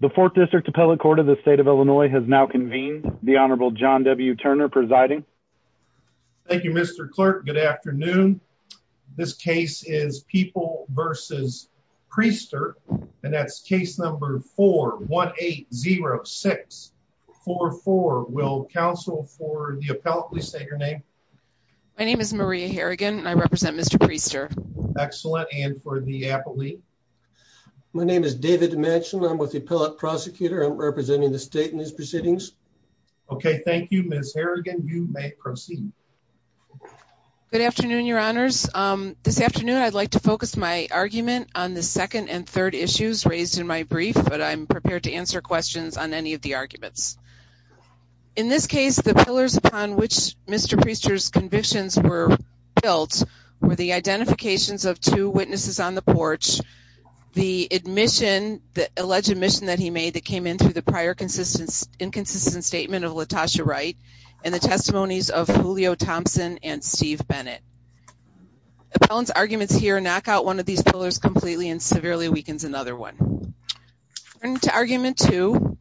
The 4th District Appellate Court of the State of Illinois has now convened the Honorable John W. Turner presiding. Thank you Mr. Clerk. Good afternoon. This case is People v. Priester and that's case number 4180644. Will counsel for the appellate please say your name. My name is Maria Harrigan and I represent Mr. Priester. Excellent and for the appellate. My name is David Dimension. I'm with the appellate prosecutor. I'm representing the state in these proceedings. Okay, thank you Ms. Harrigan. You may proceed. Good afternoon your honors. This afternoon I'd like to focus my argument on the second and third issues raised in my brief but I'm prepared to answer questions on any of the arguments. In this case the pillars upon which Mr. Priester's convictions were built were the identifications of two witnesses on the porch, the admission, the alleged admission that he made that came in through the prior inconsistent statement of LaTosha Wright, and the testimonies of Julio Thompson and Steve Bennett. Appellant's arguments here knock out one of these pillars completely and severely weakens another one. Turning to argument 2,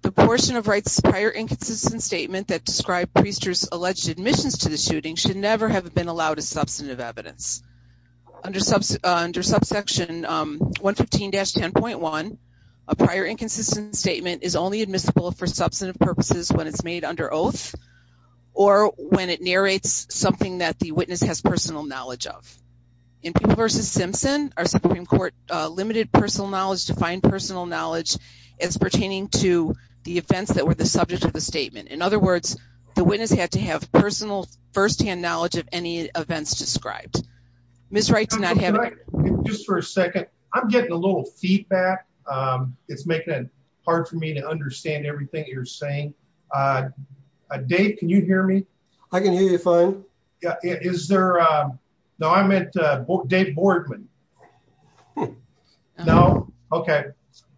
the portion of Wright's prior inconsistent statement that described Priester's alleged admissions to the shooting should never have been allowed as substantive evidence. Under subsection 115-10.1, a prior inconsistent statement is only admissible for substantive purposes when it's made under oath or when it narrates something that the witness has personal knowledge of. In Peeble v. Simpson, our Supreme Court limited personal knowledge to find personal knowledge as pertaining to the events that were the subject of the statement. In other words, the witness had to have personal firsthand knowledge of any events described. Ms. Wright's not having... Just for a second, I'm getting a little feedback. It's making it hard for me to understand everything you're saying. Dave can you hear me? I can hear you fine. Is there... no I meant Dave Boardman. No? Okay.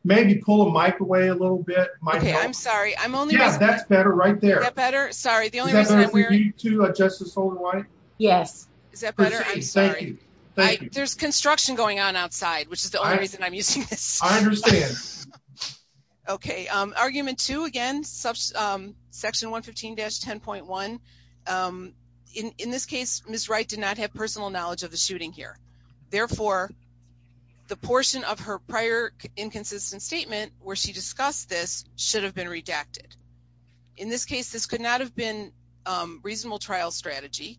Maybe pull a mic away a little. I'm sorry. I'm sorry. I'm only... Yeah, that's better right there. Is that better? Sorry, the only reason I'm wearing... Is that better for you too, Justice Holden-Wright? Yes. Is that better? I'm sorry. Thank you. There's construction going on outside, which is the only reason I'm using this. I understand. Okay, argument 2 again, section 115-10.1. In this case, Ms. Wright did not have personal knowledge of the shooting here. Therefore, the portion of her prior inconsistent statement where she discussed this should have been redacted. In this case, this could not have been reasonable trial strategy.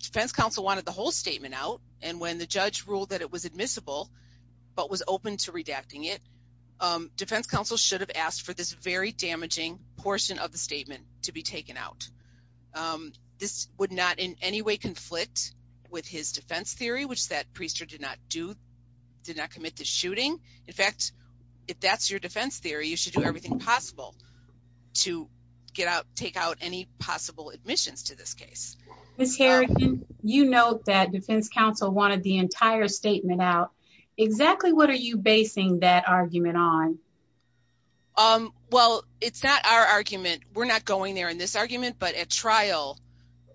Defense counsel wanted the whole statement out and when the judge ruled that it was admissible but was open to redacting it, defense counsel should have asked for this very damaging portion of the statement to be taken out. This would not in any way conflict with his defense theory, which that priesthood did not do, did not commit the shooting. In fact, if that's your defense theory, you should do everything possible to get out, take out any possible admissions to this case. Ms. Harrington, you note that defense counsel wanted the entire statement out. Exactly what are you basing that argument on? Well, it's not our argument. We're not going there in this argument, but at trial,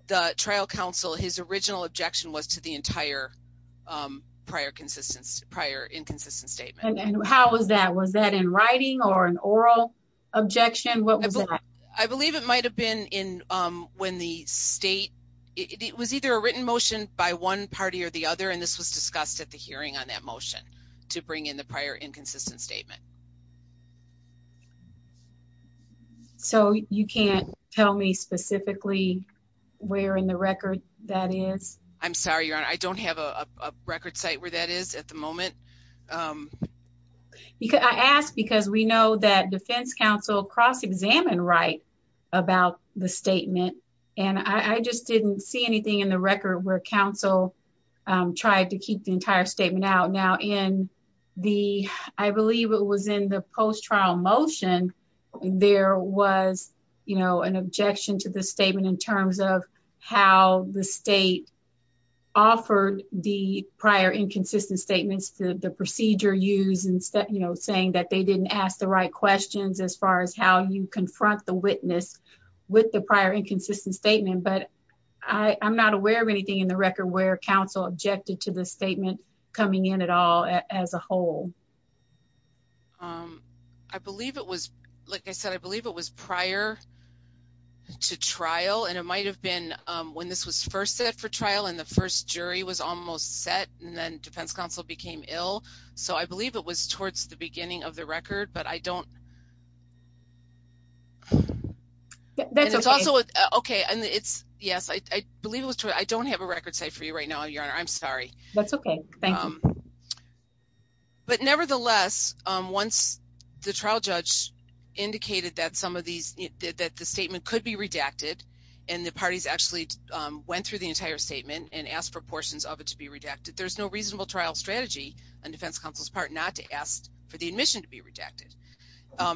the trial counsel, his original objection was to the entire prior inconsistent statement. How was that? Was that in writing or an oral objection? What was that? I believe it might have been when the state, it was either a written motion by one party or the other and this was discussed at the hearing on that motion to bring in the prior inconsistent statement. So you can't tell me specifically where in the record that is? I'm sorry, your honor. I don't have a I don't know where that is at the moment. I asked because we know that defense counsel cross examined right about the statement and I just didn't see anything in the record where counsel tried to keep the entire statement out. Now in the, I believe it was in the post trial motion. There was, you know, an objection to the statement in terms of how the state offered the prior inconsistent statements, the procedure used and, you know, saying that they didn't ask the right questions as far as how you confront the witness with the prior inconsistent statement. But I'm not aware of anything in the record where counsel objected to the statement coming in at all as a whole. Um, I believe it was, like I said, I believe it was prior to trial and it might have been when this was first set for trial and the first jury was almost set and then defense counsel became ill. So I believe it was towards the beginning of the record, but I don't that's also okay. And it's yes, I believe it was true. I don't have a record set for you right now, your honor. I'm sorry. That's okay. Thank you. But nevertheless, once the trial judge indicated that some of these that the statement could be redacted and the parties actually went through the entire statement and asked for portions of it to be redacted. There's no reasonable trial strategy on defense counsel's part not to ask for the admission to be rejected.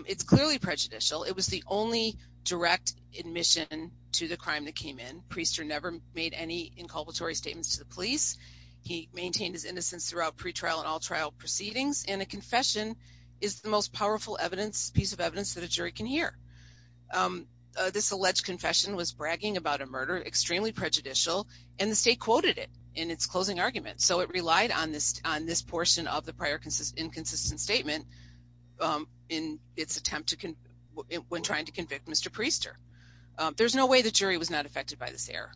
It's clearly prejudicial. It was the only direct admission to the crime that came in. Priester never made any inculpatory statements to the police. He maintained his innocence throughout pretrial and all trial proceedings. And a confession is the most powerful evidence piece of evidence that a jury can hear. Um, this alleged confession was bragging about a murder, extremely prejudicial, and the state quoted it in its closing argument. So it relied on this on this portion of the prior inconsistent statement. Um, in its attempt to when trying to convict Mr. Priester, there's no way the jury was not affected by this error.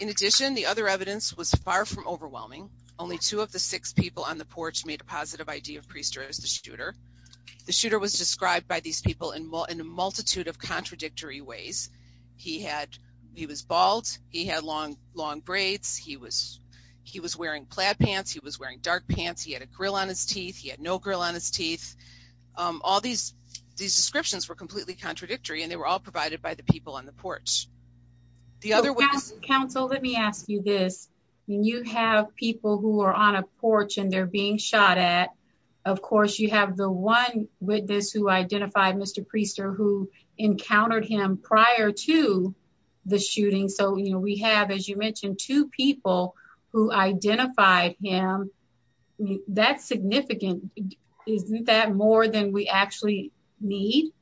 In addition, the other evidence was far from overwhelming. Only two of the six people on the porch made a positive idea of Priester as the shooter. The shooter was described by these people in a multitude of contradictory ways. He had. He was bald. He had long, long braids. He was. He was wearing plaid pants. He was wearing dark pants. He had a grill on his teeth. He had no girl on his teeth. All these these descriptions were completely contradictory, and they were all provided by the people on the porch. The other way, counsel, let me ask you this. You have people who are on a porch and they're being shot at. Of encountered him prior to the shooting. So we have, as you mentioned, two people who identified him. That's significant. Isn't that more than we actually need?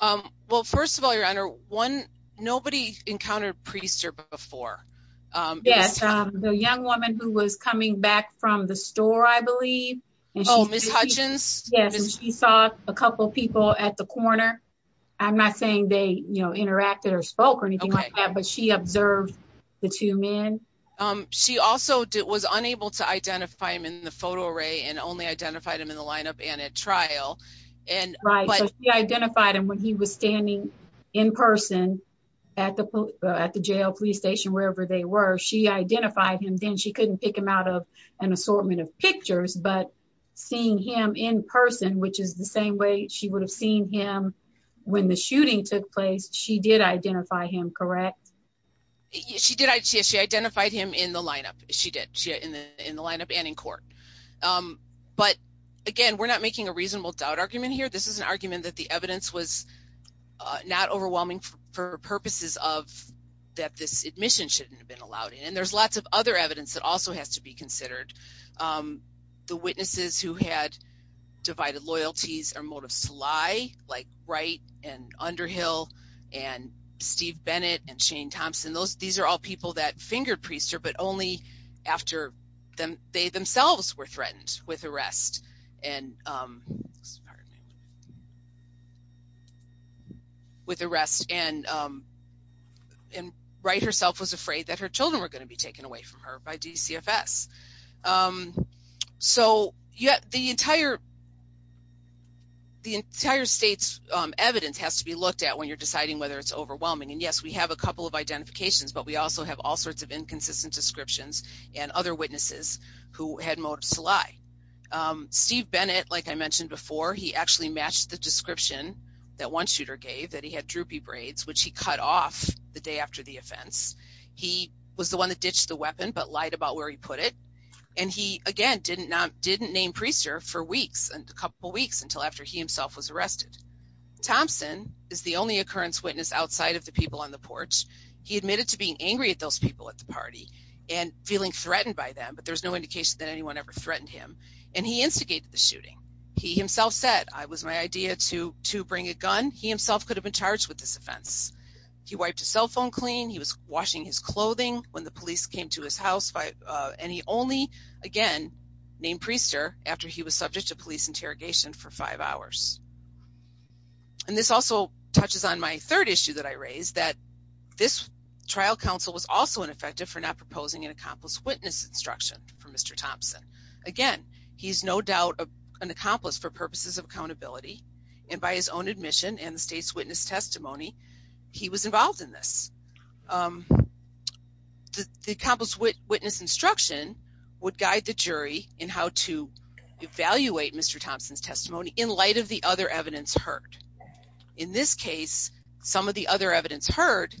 Um, well, first of all, your honor one. Nobody encountered Priester before. Yes. The young woman who was coming back from the store, I I'm not saying they, you know, interacted or spoke or anything like that, but she observed the two men. Um, she also was unable to identify him in the photo array and only identified him in the lineup and at trial. And he identified him when he was standing in person at the at the jail police station, wherever they were. She identified him. Then she couldn't pick him out of an assortment of pictures. But seeing him in person, which is the when the shooting took place, she did identify him. Correct. She did. She identified him in the lineup. She did in the lineup and in court. Um, but again, we're not making a reasonable doubt argument here. This is an argument that the evidence was not overwhelming for purposes of that. This admission shouldn't have been allowed. And there's lots of other evidence that also has to be considered. Um, the witnesses who had divided loyalties or motives to lie, like Wright and Underhill and Steve Bennett and Shane Thompson, those, these are all people that fingered Priester, but only after them, they themselves were threatened with arrest and, um, with arrest and, um, and Wright herself was afraid that her children were going to be taken away from her by DCFS. Um, so the entire, the entire state's evidence has to be looked at when you're deciding whether it's overwhelming. And yes, we have a couple of identifications, but we also have all sorts of inconsistent descriptions and other witnesses who had motives to lie. Um, Steve Bennett, like I mentioned before, he actually matched the description that one shooter gave that he had droopy He was the one that ditched the weapon, but lied about where he put it. And he again, didn't not, didn't name Priester for weeks and a couple of weeks until after he himself was arrested. Thompson is the only occurrence witness outside of the people on the porch. He admitted to being angry at those people at the party and feeling threatened by them, but there's no indication that anyone ever threatened him. And he instigated the shooting. He himself said, I was my idea to, to bring a gun. He himself could have been charged with this offense. He wiped a cell phone clean. He was washing his clothing when the police came to his house by, uh, and he only again named Priester after he was subject to police interrogation for five hours. And this also touches on my third issue that I raised that this trial counsel was also ineffective for not proposing an accomplice witness instruction for Mr. Thompson. Again, he's no doubt an accomplice for witness testimony. He was involved in this. Um, the, the accomplice witness instruction would guide the jury in how to evaluate Mr. Thompson's testimony in light of the other evidence hurt. In this case, some of the other evidence heard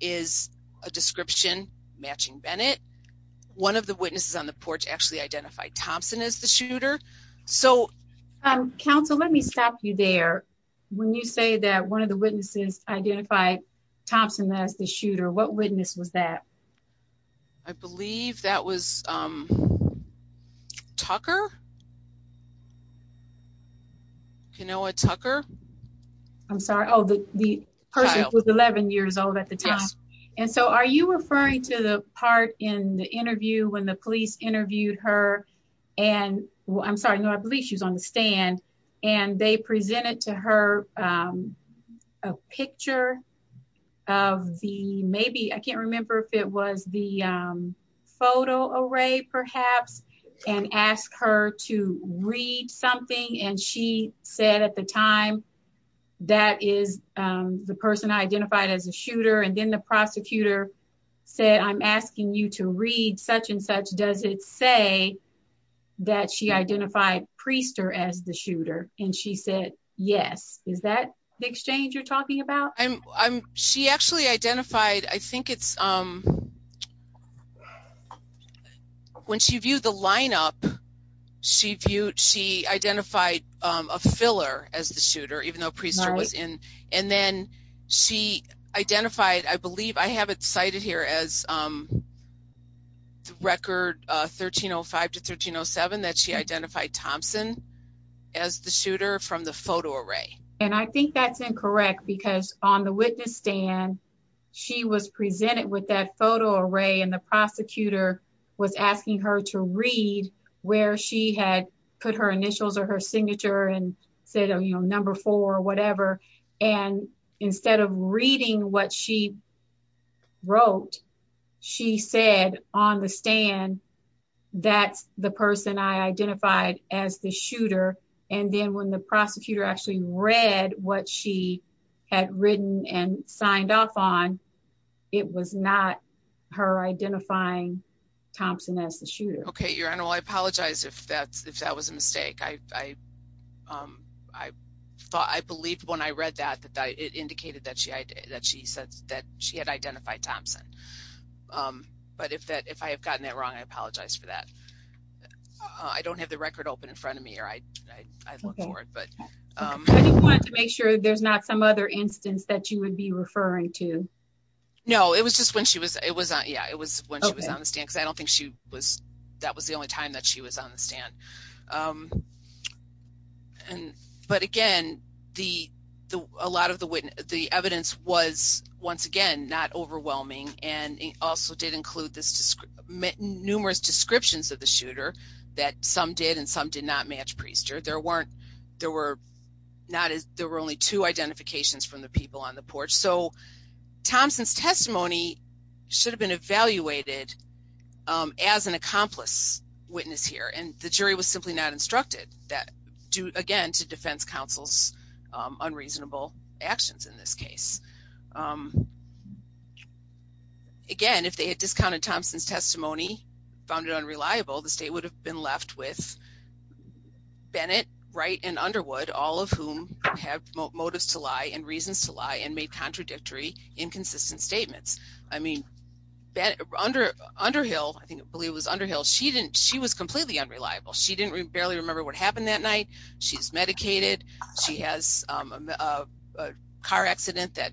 is a description matching Bennett. One of the witnesses on the porch actually identified Thompson as the shooter. So, um, counsel, let me stop you there. When you say that one of the witnesses identified Thompson as the shooter, what witness was that? I believe that was, um, Tucker. You know what, Tucker? I'm sorry. Oh, the person was 11 years old at the time. And so are you referring to the part in the interview when the police interviewed her? And I'm sorry. No, I believe she was on the stand and they presented to her, um, a picture of the maybe I can't remember if it was the, um, photo array perhaps and ask her to read something. And she said at the time that is, um, the person identified as a shooter. And then the prosecutor said, I'm asking you to read such and such. Does it say that she identified Priester as the shooter? And she said yes. Is that the exchange you're talking about? I'm she actually identified. I think it's, um, when she viewed the lineup, she viewed, she identified a filler as the shooter, even though priest was in. And then she identified, I believe I have it cited here as, um, record 13 oh 5 to 13 oh seven that she identified Thompson as the shooter from the photo array. And I think that's incorrect because on the witness stand, she was presented with that photo array and the prosecutor was asking her to read where she had put her initials or her signature and said, you know, reading what she wrote, she said on the stand, that's the person I identified as the shooter. And then when the prosecutor actually read what she had written and signed off on, it was not her identifying Thompson as the shooter. Okay, Your Honor. Well, I apologize if that's if that was a that she said that she had identified Thompson. Um, but if that if I have gotten that wrong, I apologize for that. I don't have the record open in front of me or I, I look forward, but, um, I just wanted to make sure there's not some other instance that you would be referring to. No, it was just when she was, it was, yeah, it was when she was on the stand because I don't think she was, that was the only time that she was on the stand. Um, and but again, the a the evidence was, once again, not overwhelming. And it also did include this numerous descriptions of the shooter that some did and some did not match Priester. There weren't, there were not, there were only two identifications from the people on the porch. So Thompson's testimony should have been evaluated, um, as an accomplice witness here. And the jury was simply not instructed that due again to defense counsel's unreasonable actions in this case. Um, again, if they had discounted Thompson's testimony, found it unreliable, the state would have been left with Bennett, Wright and Underwood, all of whom have motives to lie and reasons to lie and made contradictory, inconsistent statements. I mean, that under Underhill, I think I believe it was Underhill. She didn't, she was completely unreliable. She didn't barely remember what happened that night. She's medicated. She has a car accident that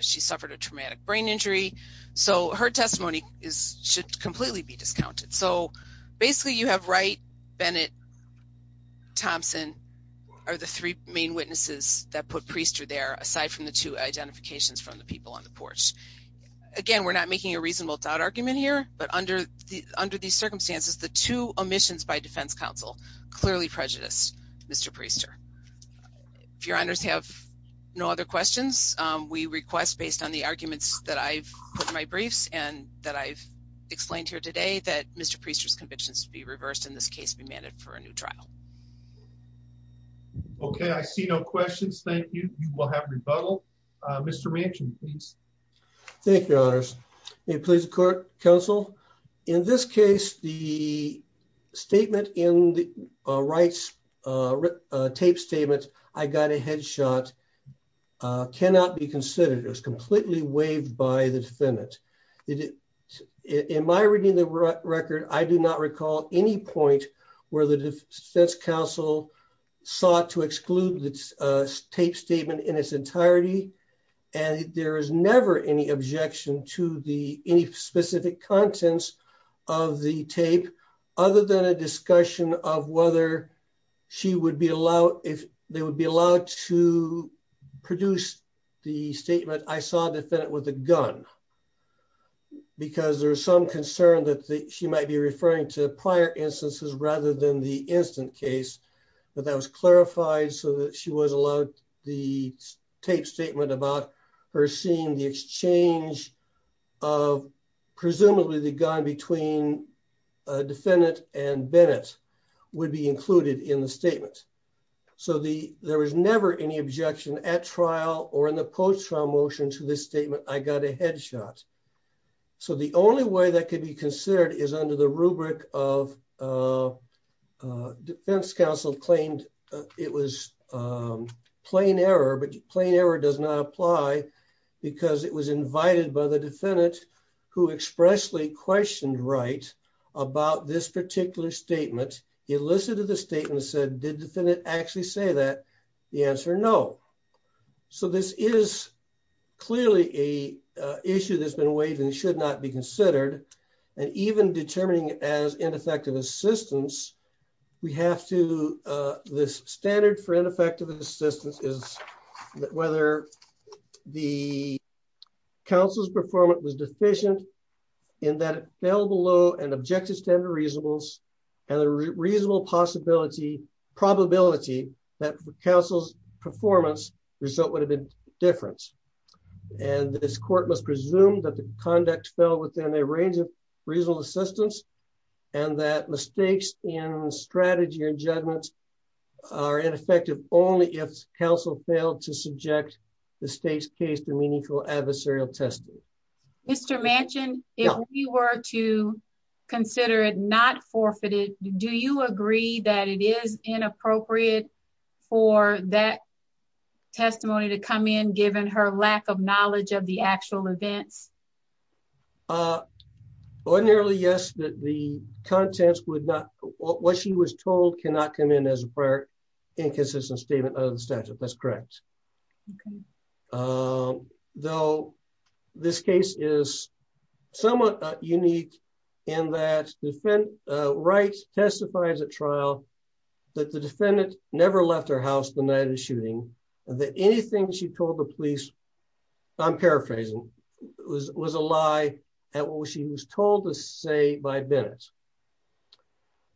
she suffered a traumatic brain injury. So her testimony is, should completely be discounted. So basically you have Wright, Bennett, Thompson are the three main witnesses that put Priester there, aside from the two identifications from the people on the porch. Again, we're not making a reasonable doubt argument here, but under the, under these circumstances, the two omissions by defense counsel clearly prejudiced Mr. Priester. If your honors have no other questions, we request based on the arguments that I've put my briefs and that I've explained here today that Mr. Priester's convictions to be reversed in this case be manned for a new trial. Okay. I see no questions. Thank you. You will have rebuttal. Uh, Mr. Ransom, please. Thank you. Honors. May it please the court counsel. In this case, the statement in the rights, uh, tape statements, I got a headshot, uh, cannot be considered. It was completely waived by the defendant. In my reading the record, I do not recall any point where the defense counsel sought to there is never any objection to the, any specific contents of the tape other than a discussion of whether she would be allowed if they would be allowed to produce the statement. I saw a defendant with a gun because there was some concern that she might be referring to prior instances rather than the instant case, but that was clarified so that she was allowed the tape statement about her seeing the exchange of presumably the gun between a defendant and Bennett would be included in the statement. So the, there was never any objection at trial or in the post trial motion to this statement. I got a headshot. So the only way that could be considered is under the rubric of, uh, uh, defense counsel claimed it was, um, plain error, but plain error does not apply because it was invited by the defendant who expressly questioned right about this particular statement, elicited the statement said, did the defendant actually say that the answer? No. So this is clearly a issue that's been waived and should not be considered. And even determining as ineffective assistance, we have to, uh, this standard for ineffective assistance is whether the council's performance was deficient in that available low and objective standard reasonables and the reasonable possibility probability that counsel's performance result would have been different. And this court must presume that the conduct fell within a range of reasonable assistance and that mistakes in strategy and judgments are ineffective only if counsel failed to subject the state's case to meaningful adversarial testing. Mr. Manchin, if you were to consider it not forfeited, do you agree that it is inappropriate for that testimony to come in given her lack of knowledge of the actual events? Uh, ordinarily, yes, that the contents would not, what she was told cannot come in as a prior inconsistent statement of the statute. That's correct. Okay. Um, though this case is somewhat unique in that the right testifies at trial that the defendant never left her house the night of the shooting, that anything she told the police, I'm paraphrasing was, was a lie at what she was told to say by Bennett.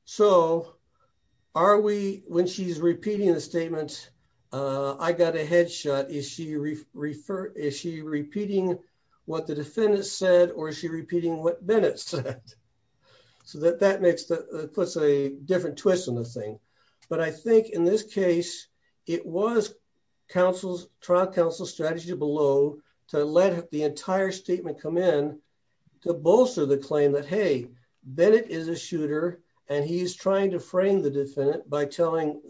So are we, when she's repeating the statement, uh, I got a headshot. Is she re referred? Is she repeating what the defendant said? Or is she repeating what Bennett said? So that that makes the puts a different twist on the thing. But I think in this case, it was counsel's trial counsel strategy below to let the entire statement come in to bolster the claim that, Hey, Bennett is a shooter and he's trying to frame the defendant by telling,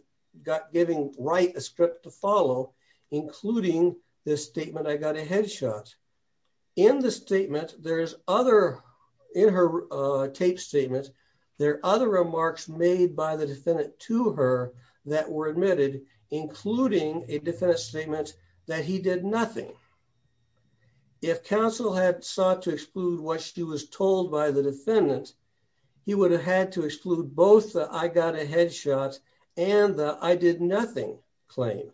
got giving right a script to follow, including this statement. I got a headshot in the statement. There's other in her, uh, tape statements. There are other remarks made by the defendant to her that were admitted, including a defense statement that he did nothing. If counsel had sought to exclude what she was told by the defendant, he would have had to exclude both. I got a headshot and I did nothing claim.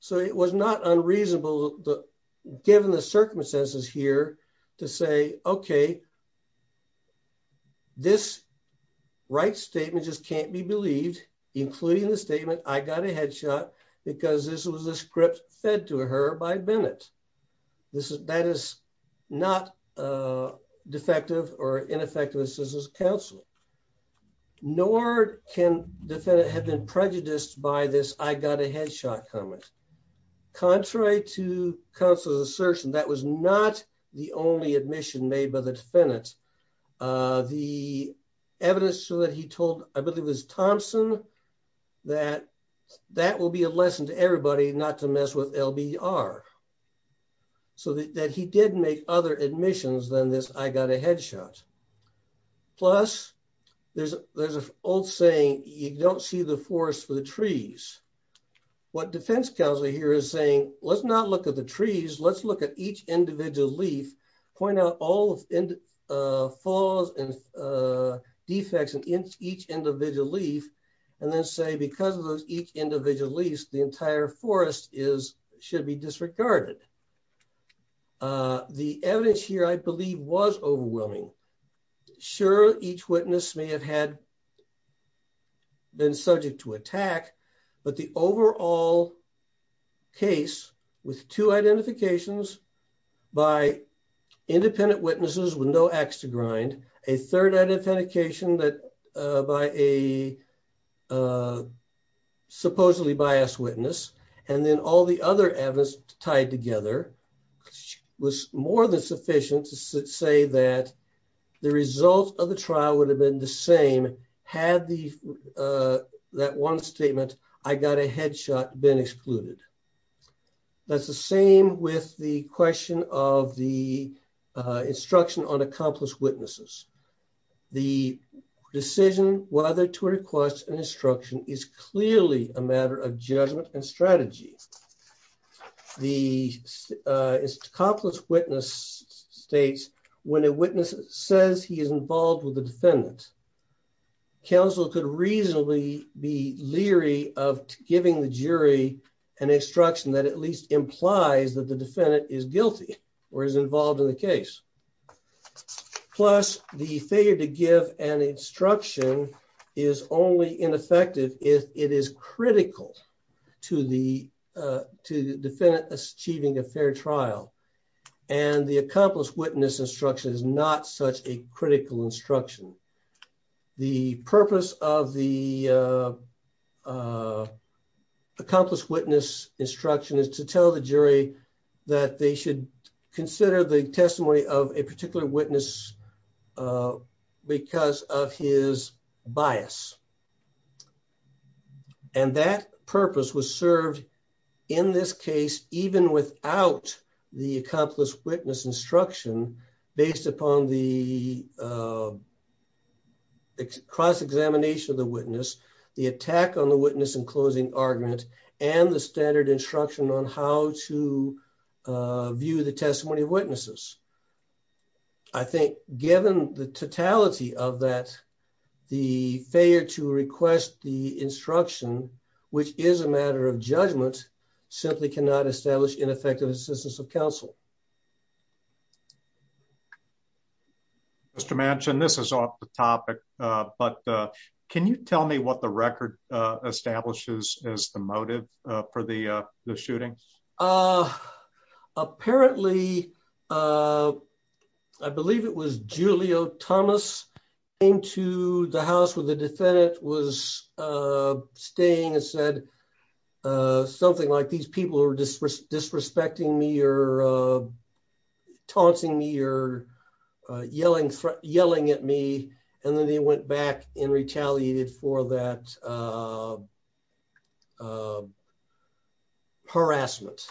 So it was not unreasonable given the circumstances here to say, okay, this right statement just can't be believed, including the statement. I got a headshot because this was a script fed to her by Bennett. This is, that is not, uh, defective or ineffective. This is counsel nor can defendant had been shot comment. Contrary to counsel's assertion, that was not the only admission made by the defendant. Uh, the evidence so that he told, I believe it was Thompson that that will be a lesson to everybody not to mess with LBR so that, that he didn't make other admissions than this. I got a headshot plus there's, there's an old saying, you don't see the forest for the trees. What defense counselor here is saying, let's not look at the trees. Let's look at each individual leaf, point out all falls and, uh, defects in each individual leaf. And then say, because of those each individual lease, the entire forest is, should be disregarded. Uh, the evidence here, I believe was overwhelming. Sure. Each witness may have had been subject to attack, but the overall case with two identifications by independent witnesses with no acts to grind a third identification that, uh, by a, uh, supposedly bias witness. And then all the other evidence tied together was more than sufficient to say that the results of the trial would have been the same. Had the, uh, that one statement, I got a headshot been excluded. That's the same with the question of the, uh, instruction on accomplished witnesses. The decision whether to request an instruction is clearly a matter of judgment and when a witness says he is involved with the defendant, counsel could reasonably be leery of giving the jury an instruction that at least implies that the defendant is guilty or is involved in the case. Plus the failure to give an instruction is only ineffective if it is critical to the, uh, to the defendant achieving a fair trial. And the accomplished witness instruction is not such a critical instruction. The purpose of the, uh, accomplished witness instruction is to tell the jury that they should consider the testimony of a particular witness, uh, because of his bias. And that purpose was served in this case, even without the accomplished witness instruction based upon the, uh, cross examination of the witness, the attack on the witness and closing argument and the standard instruction on how to, uh, view the testimony of witnesses. I think given the totality of that, the failure to request the instruction, which is a matter of justice. Mr. Manchin, this is off the topic, but, uh, can you tell me what the record establishes as the motive for the shooting? Uh, apparently, uh, I believe it was Julio Thomas into the house where the defendant was, uh, staying and uh, something like these people are just disrespecting me or, uh, taunting me or, uh, yelling, yelling at me. And then he went back and retaliated for that, uh, uh, harassment.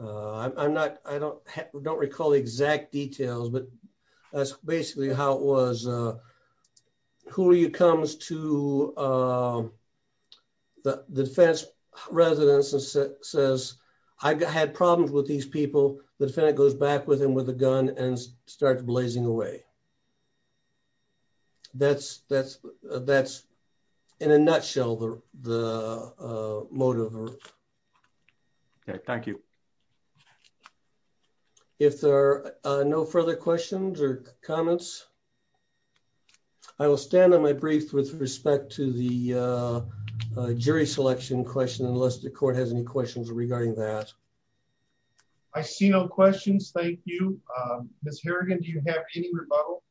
Uh, I'm not, I don't, I don't recall the exact details, but that's basically how it was. Uh, who are you comes to, uh, the defense residents and says, I had problems with these people. The defendant goes back with him with a gun and start blazing away. That's, that's, that's in a nutshell, the, the, uh, motive. Okay. Thank you. Okay. If there are no further questions or comments, I will stand on my brief with respect to the, uh, uh, jury selection question, unless the court has any questions regarding that. I see no questions. Thank you. Um, Ms. Harrigan, do you have any rebuttal?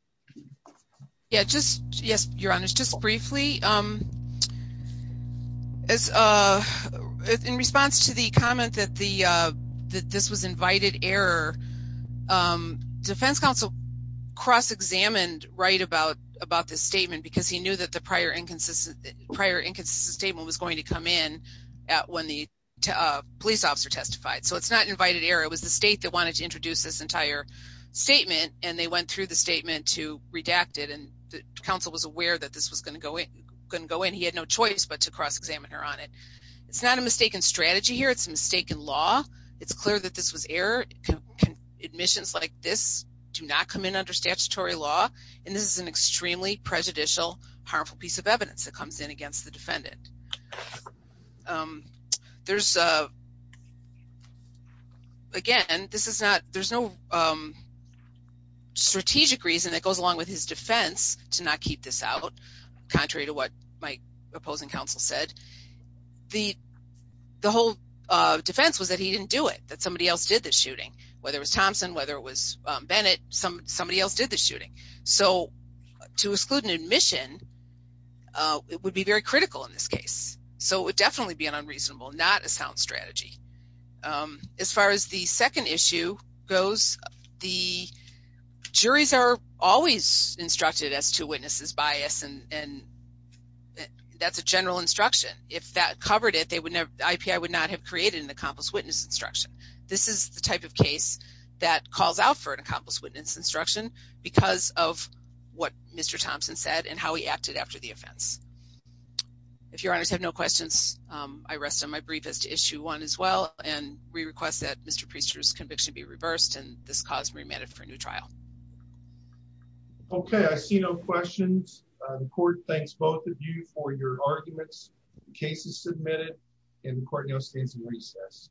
Yeah, just, yes, your honors. Just briefly, um, as, uh, in response to the comment that the, uh, that this was invited error, um, defense counsel cross-examined right about, about this statement, because he knew that the prior inconsistent, prior inconsistent statement was going to come in at when the police officer testified. So it's not invited error. It was the state that wanted to introduce this entire statement. And they went through the statement to redact it. And the counsel was aware that this was going to go in, couldn't go in. He had no choice, but to cross-examine her on it. It's not a mistaken strategy here. It's a mistaken law. It's clear that this was error. Admissions like this do not come in under statutory law. And this is an extremely prejudicial, harmful piece of evidence that comes in against the defendant. Um, there's, uh, again, this is not, there's no, um, strategic reason that goes along with his defense to not keep this out, contrary to what my opposing counsel said. The, the whole, uh, defense was that he didn't do it, that somebody else did the shooting. Whether it was Thompson, whether it was, um, Bennett, some, somebody else did the shooting. So to exclude an admission, uh, it would be very critical in this case. So it would definitely be an unreasonable, not a sound strategy. Um, as far as the second issue goes, the juries are always instructed as to witnesses bias and, and that's a general instruction. If that covered it, they would never, the IPI would not have created an accomplice witness instruction. This is the type of case that calls out for an accomplice witness instruction because of what Mr. Thompson said and how he acted after the offense. If your honors have no questions, um, I rest on my brief as to and we request that Mr. Preister's conviction be reversed and this cause remanded for a new trial. Okay. I see no questions. Uh, the court thanks both of you for your arguments. The case is submitted and the court now stands in recess.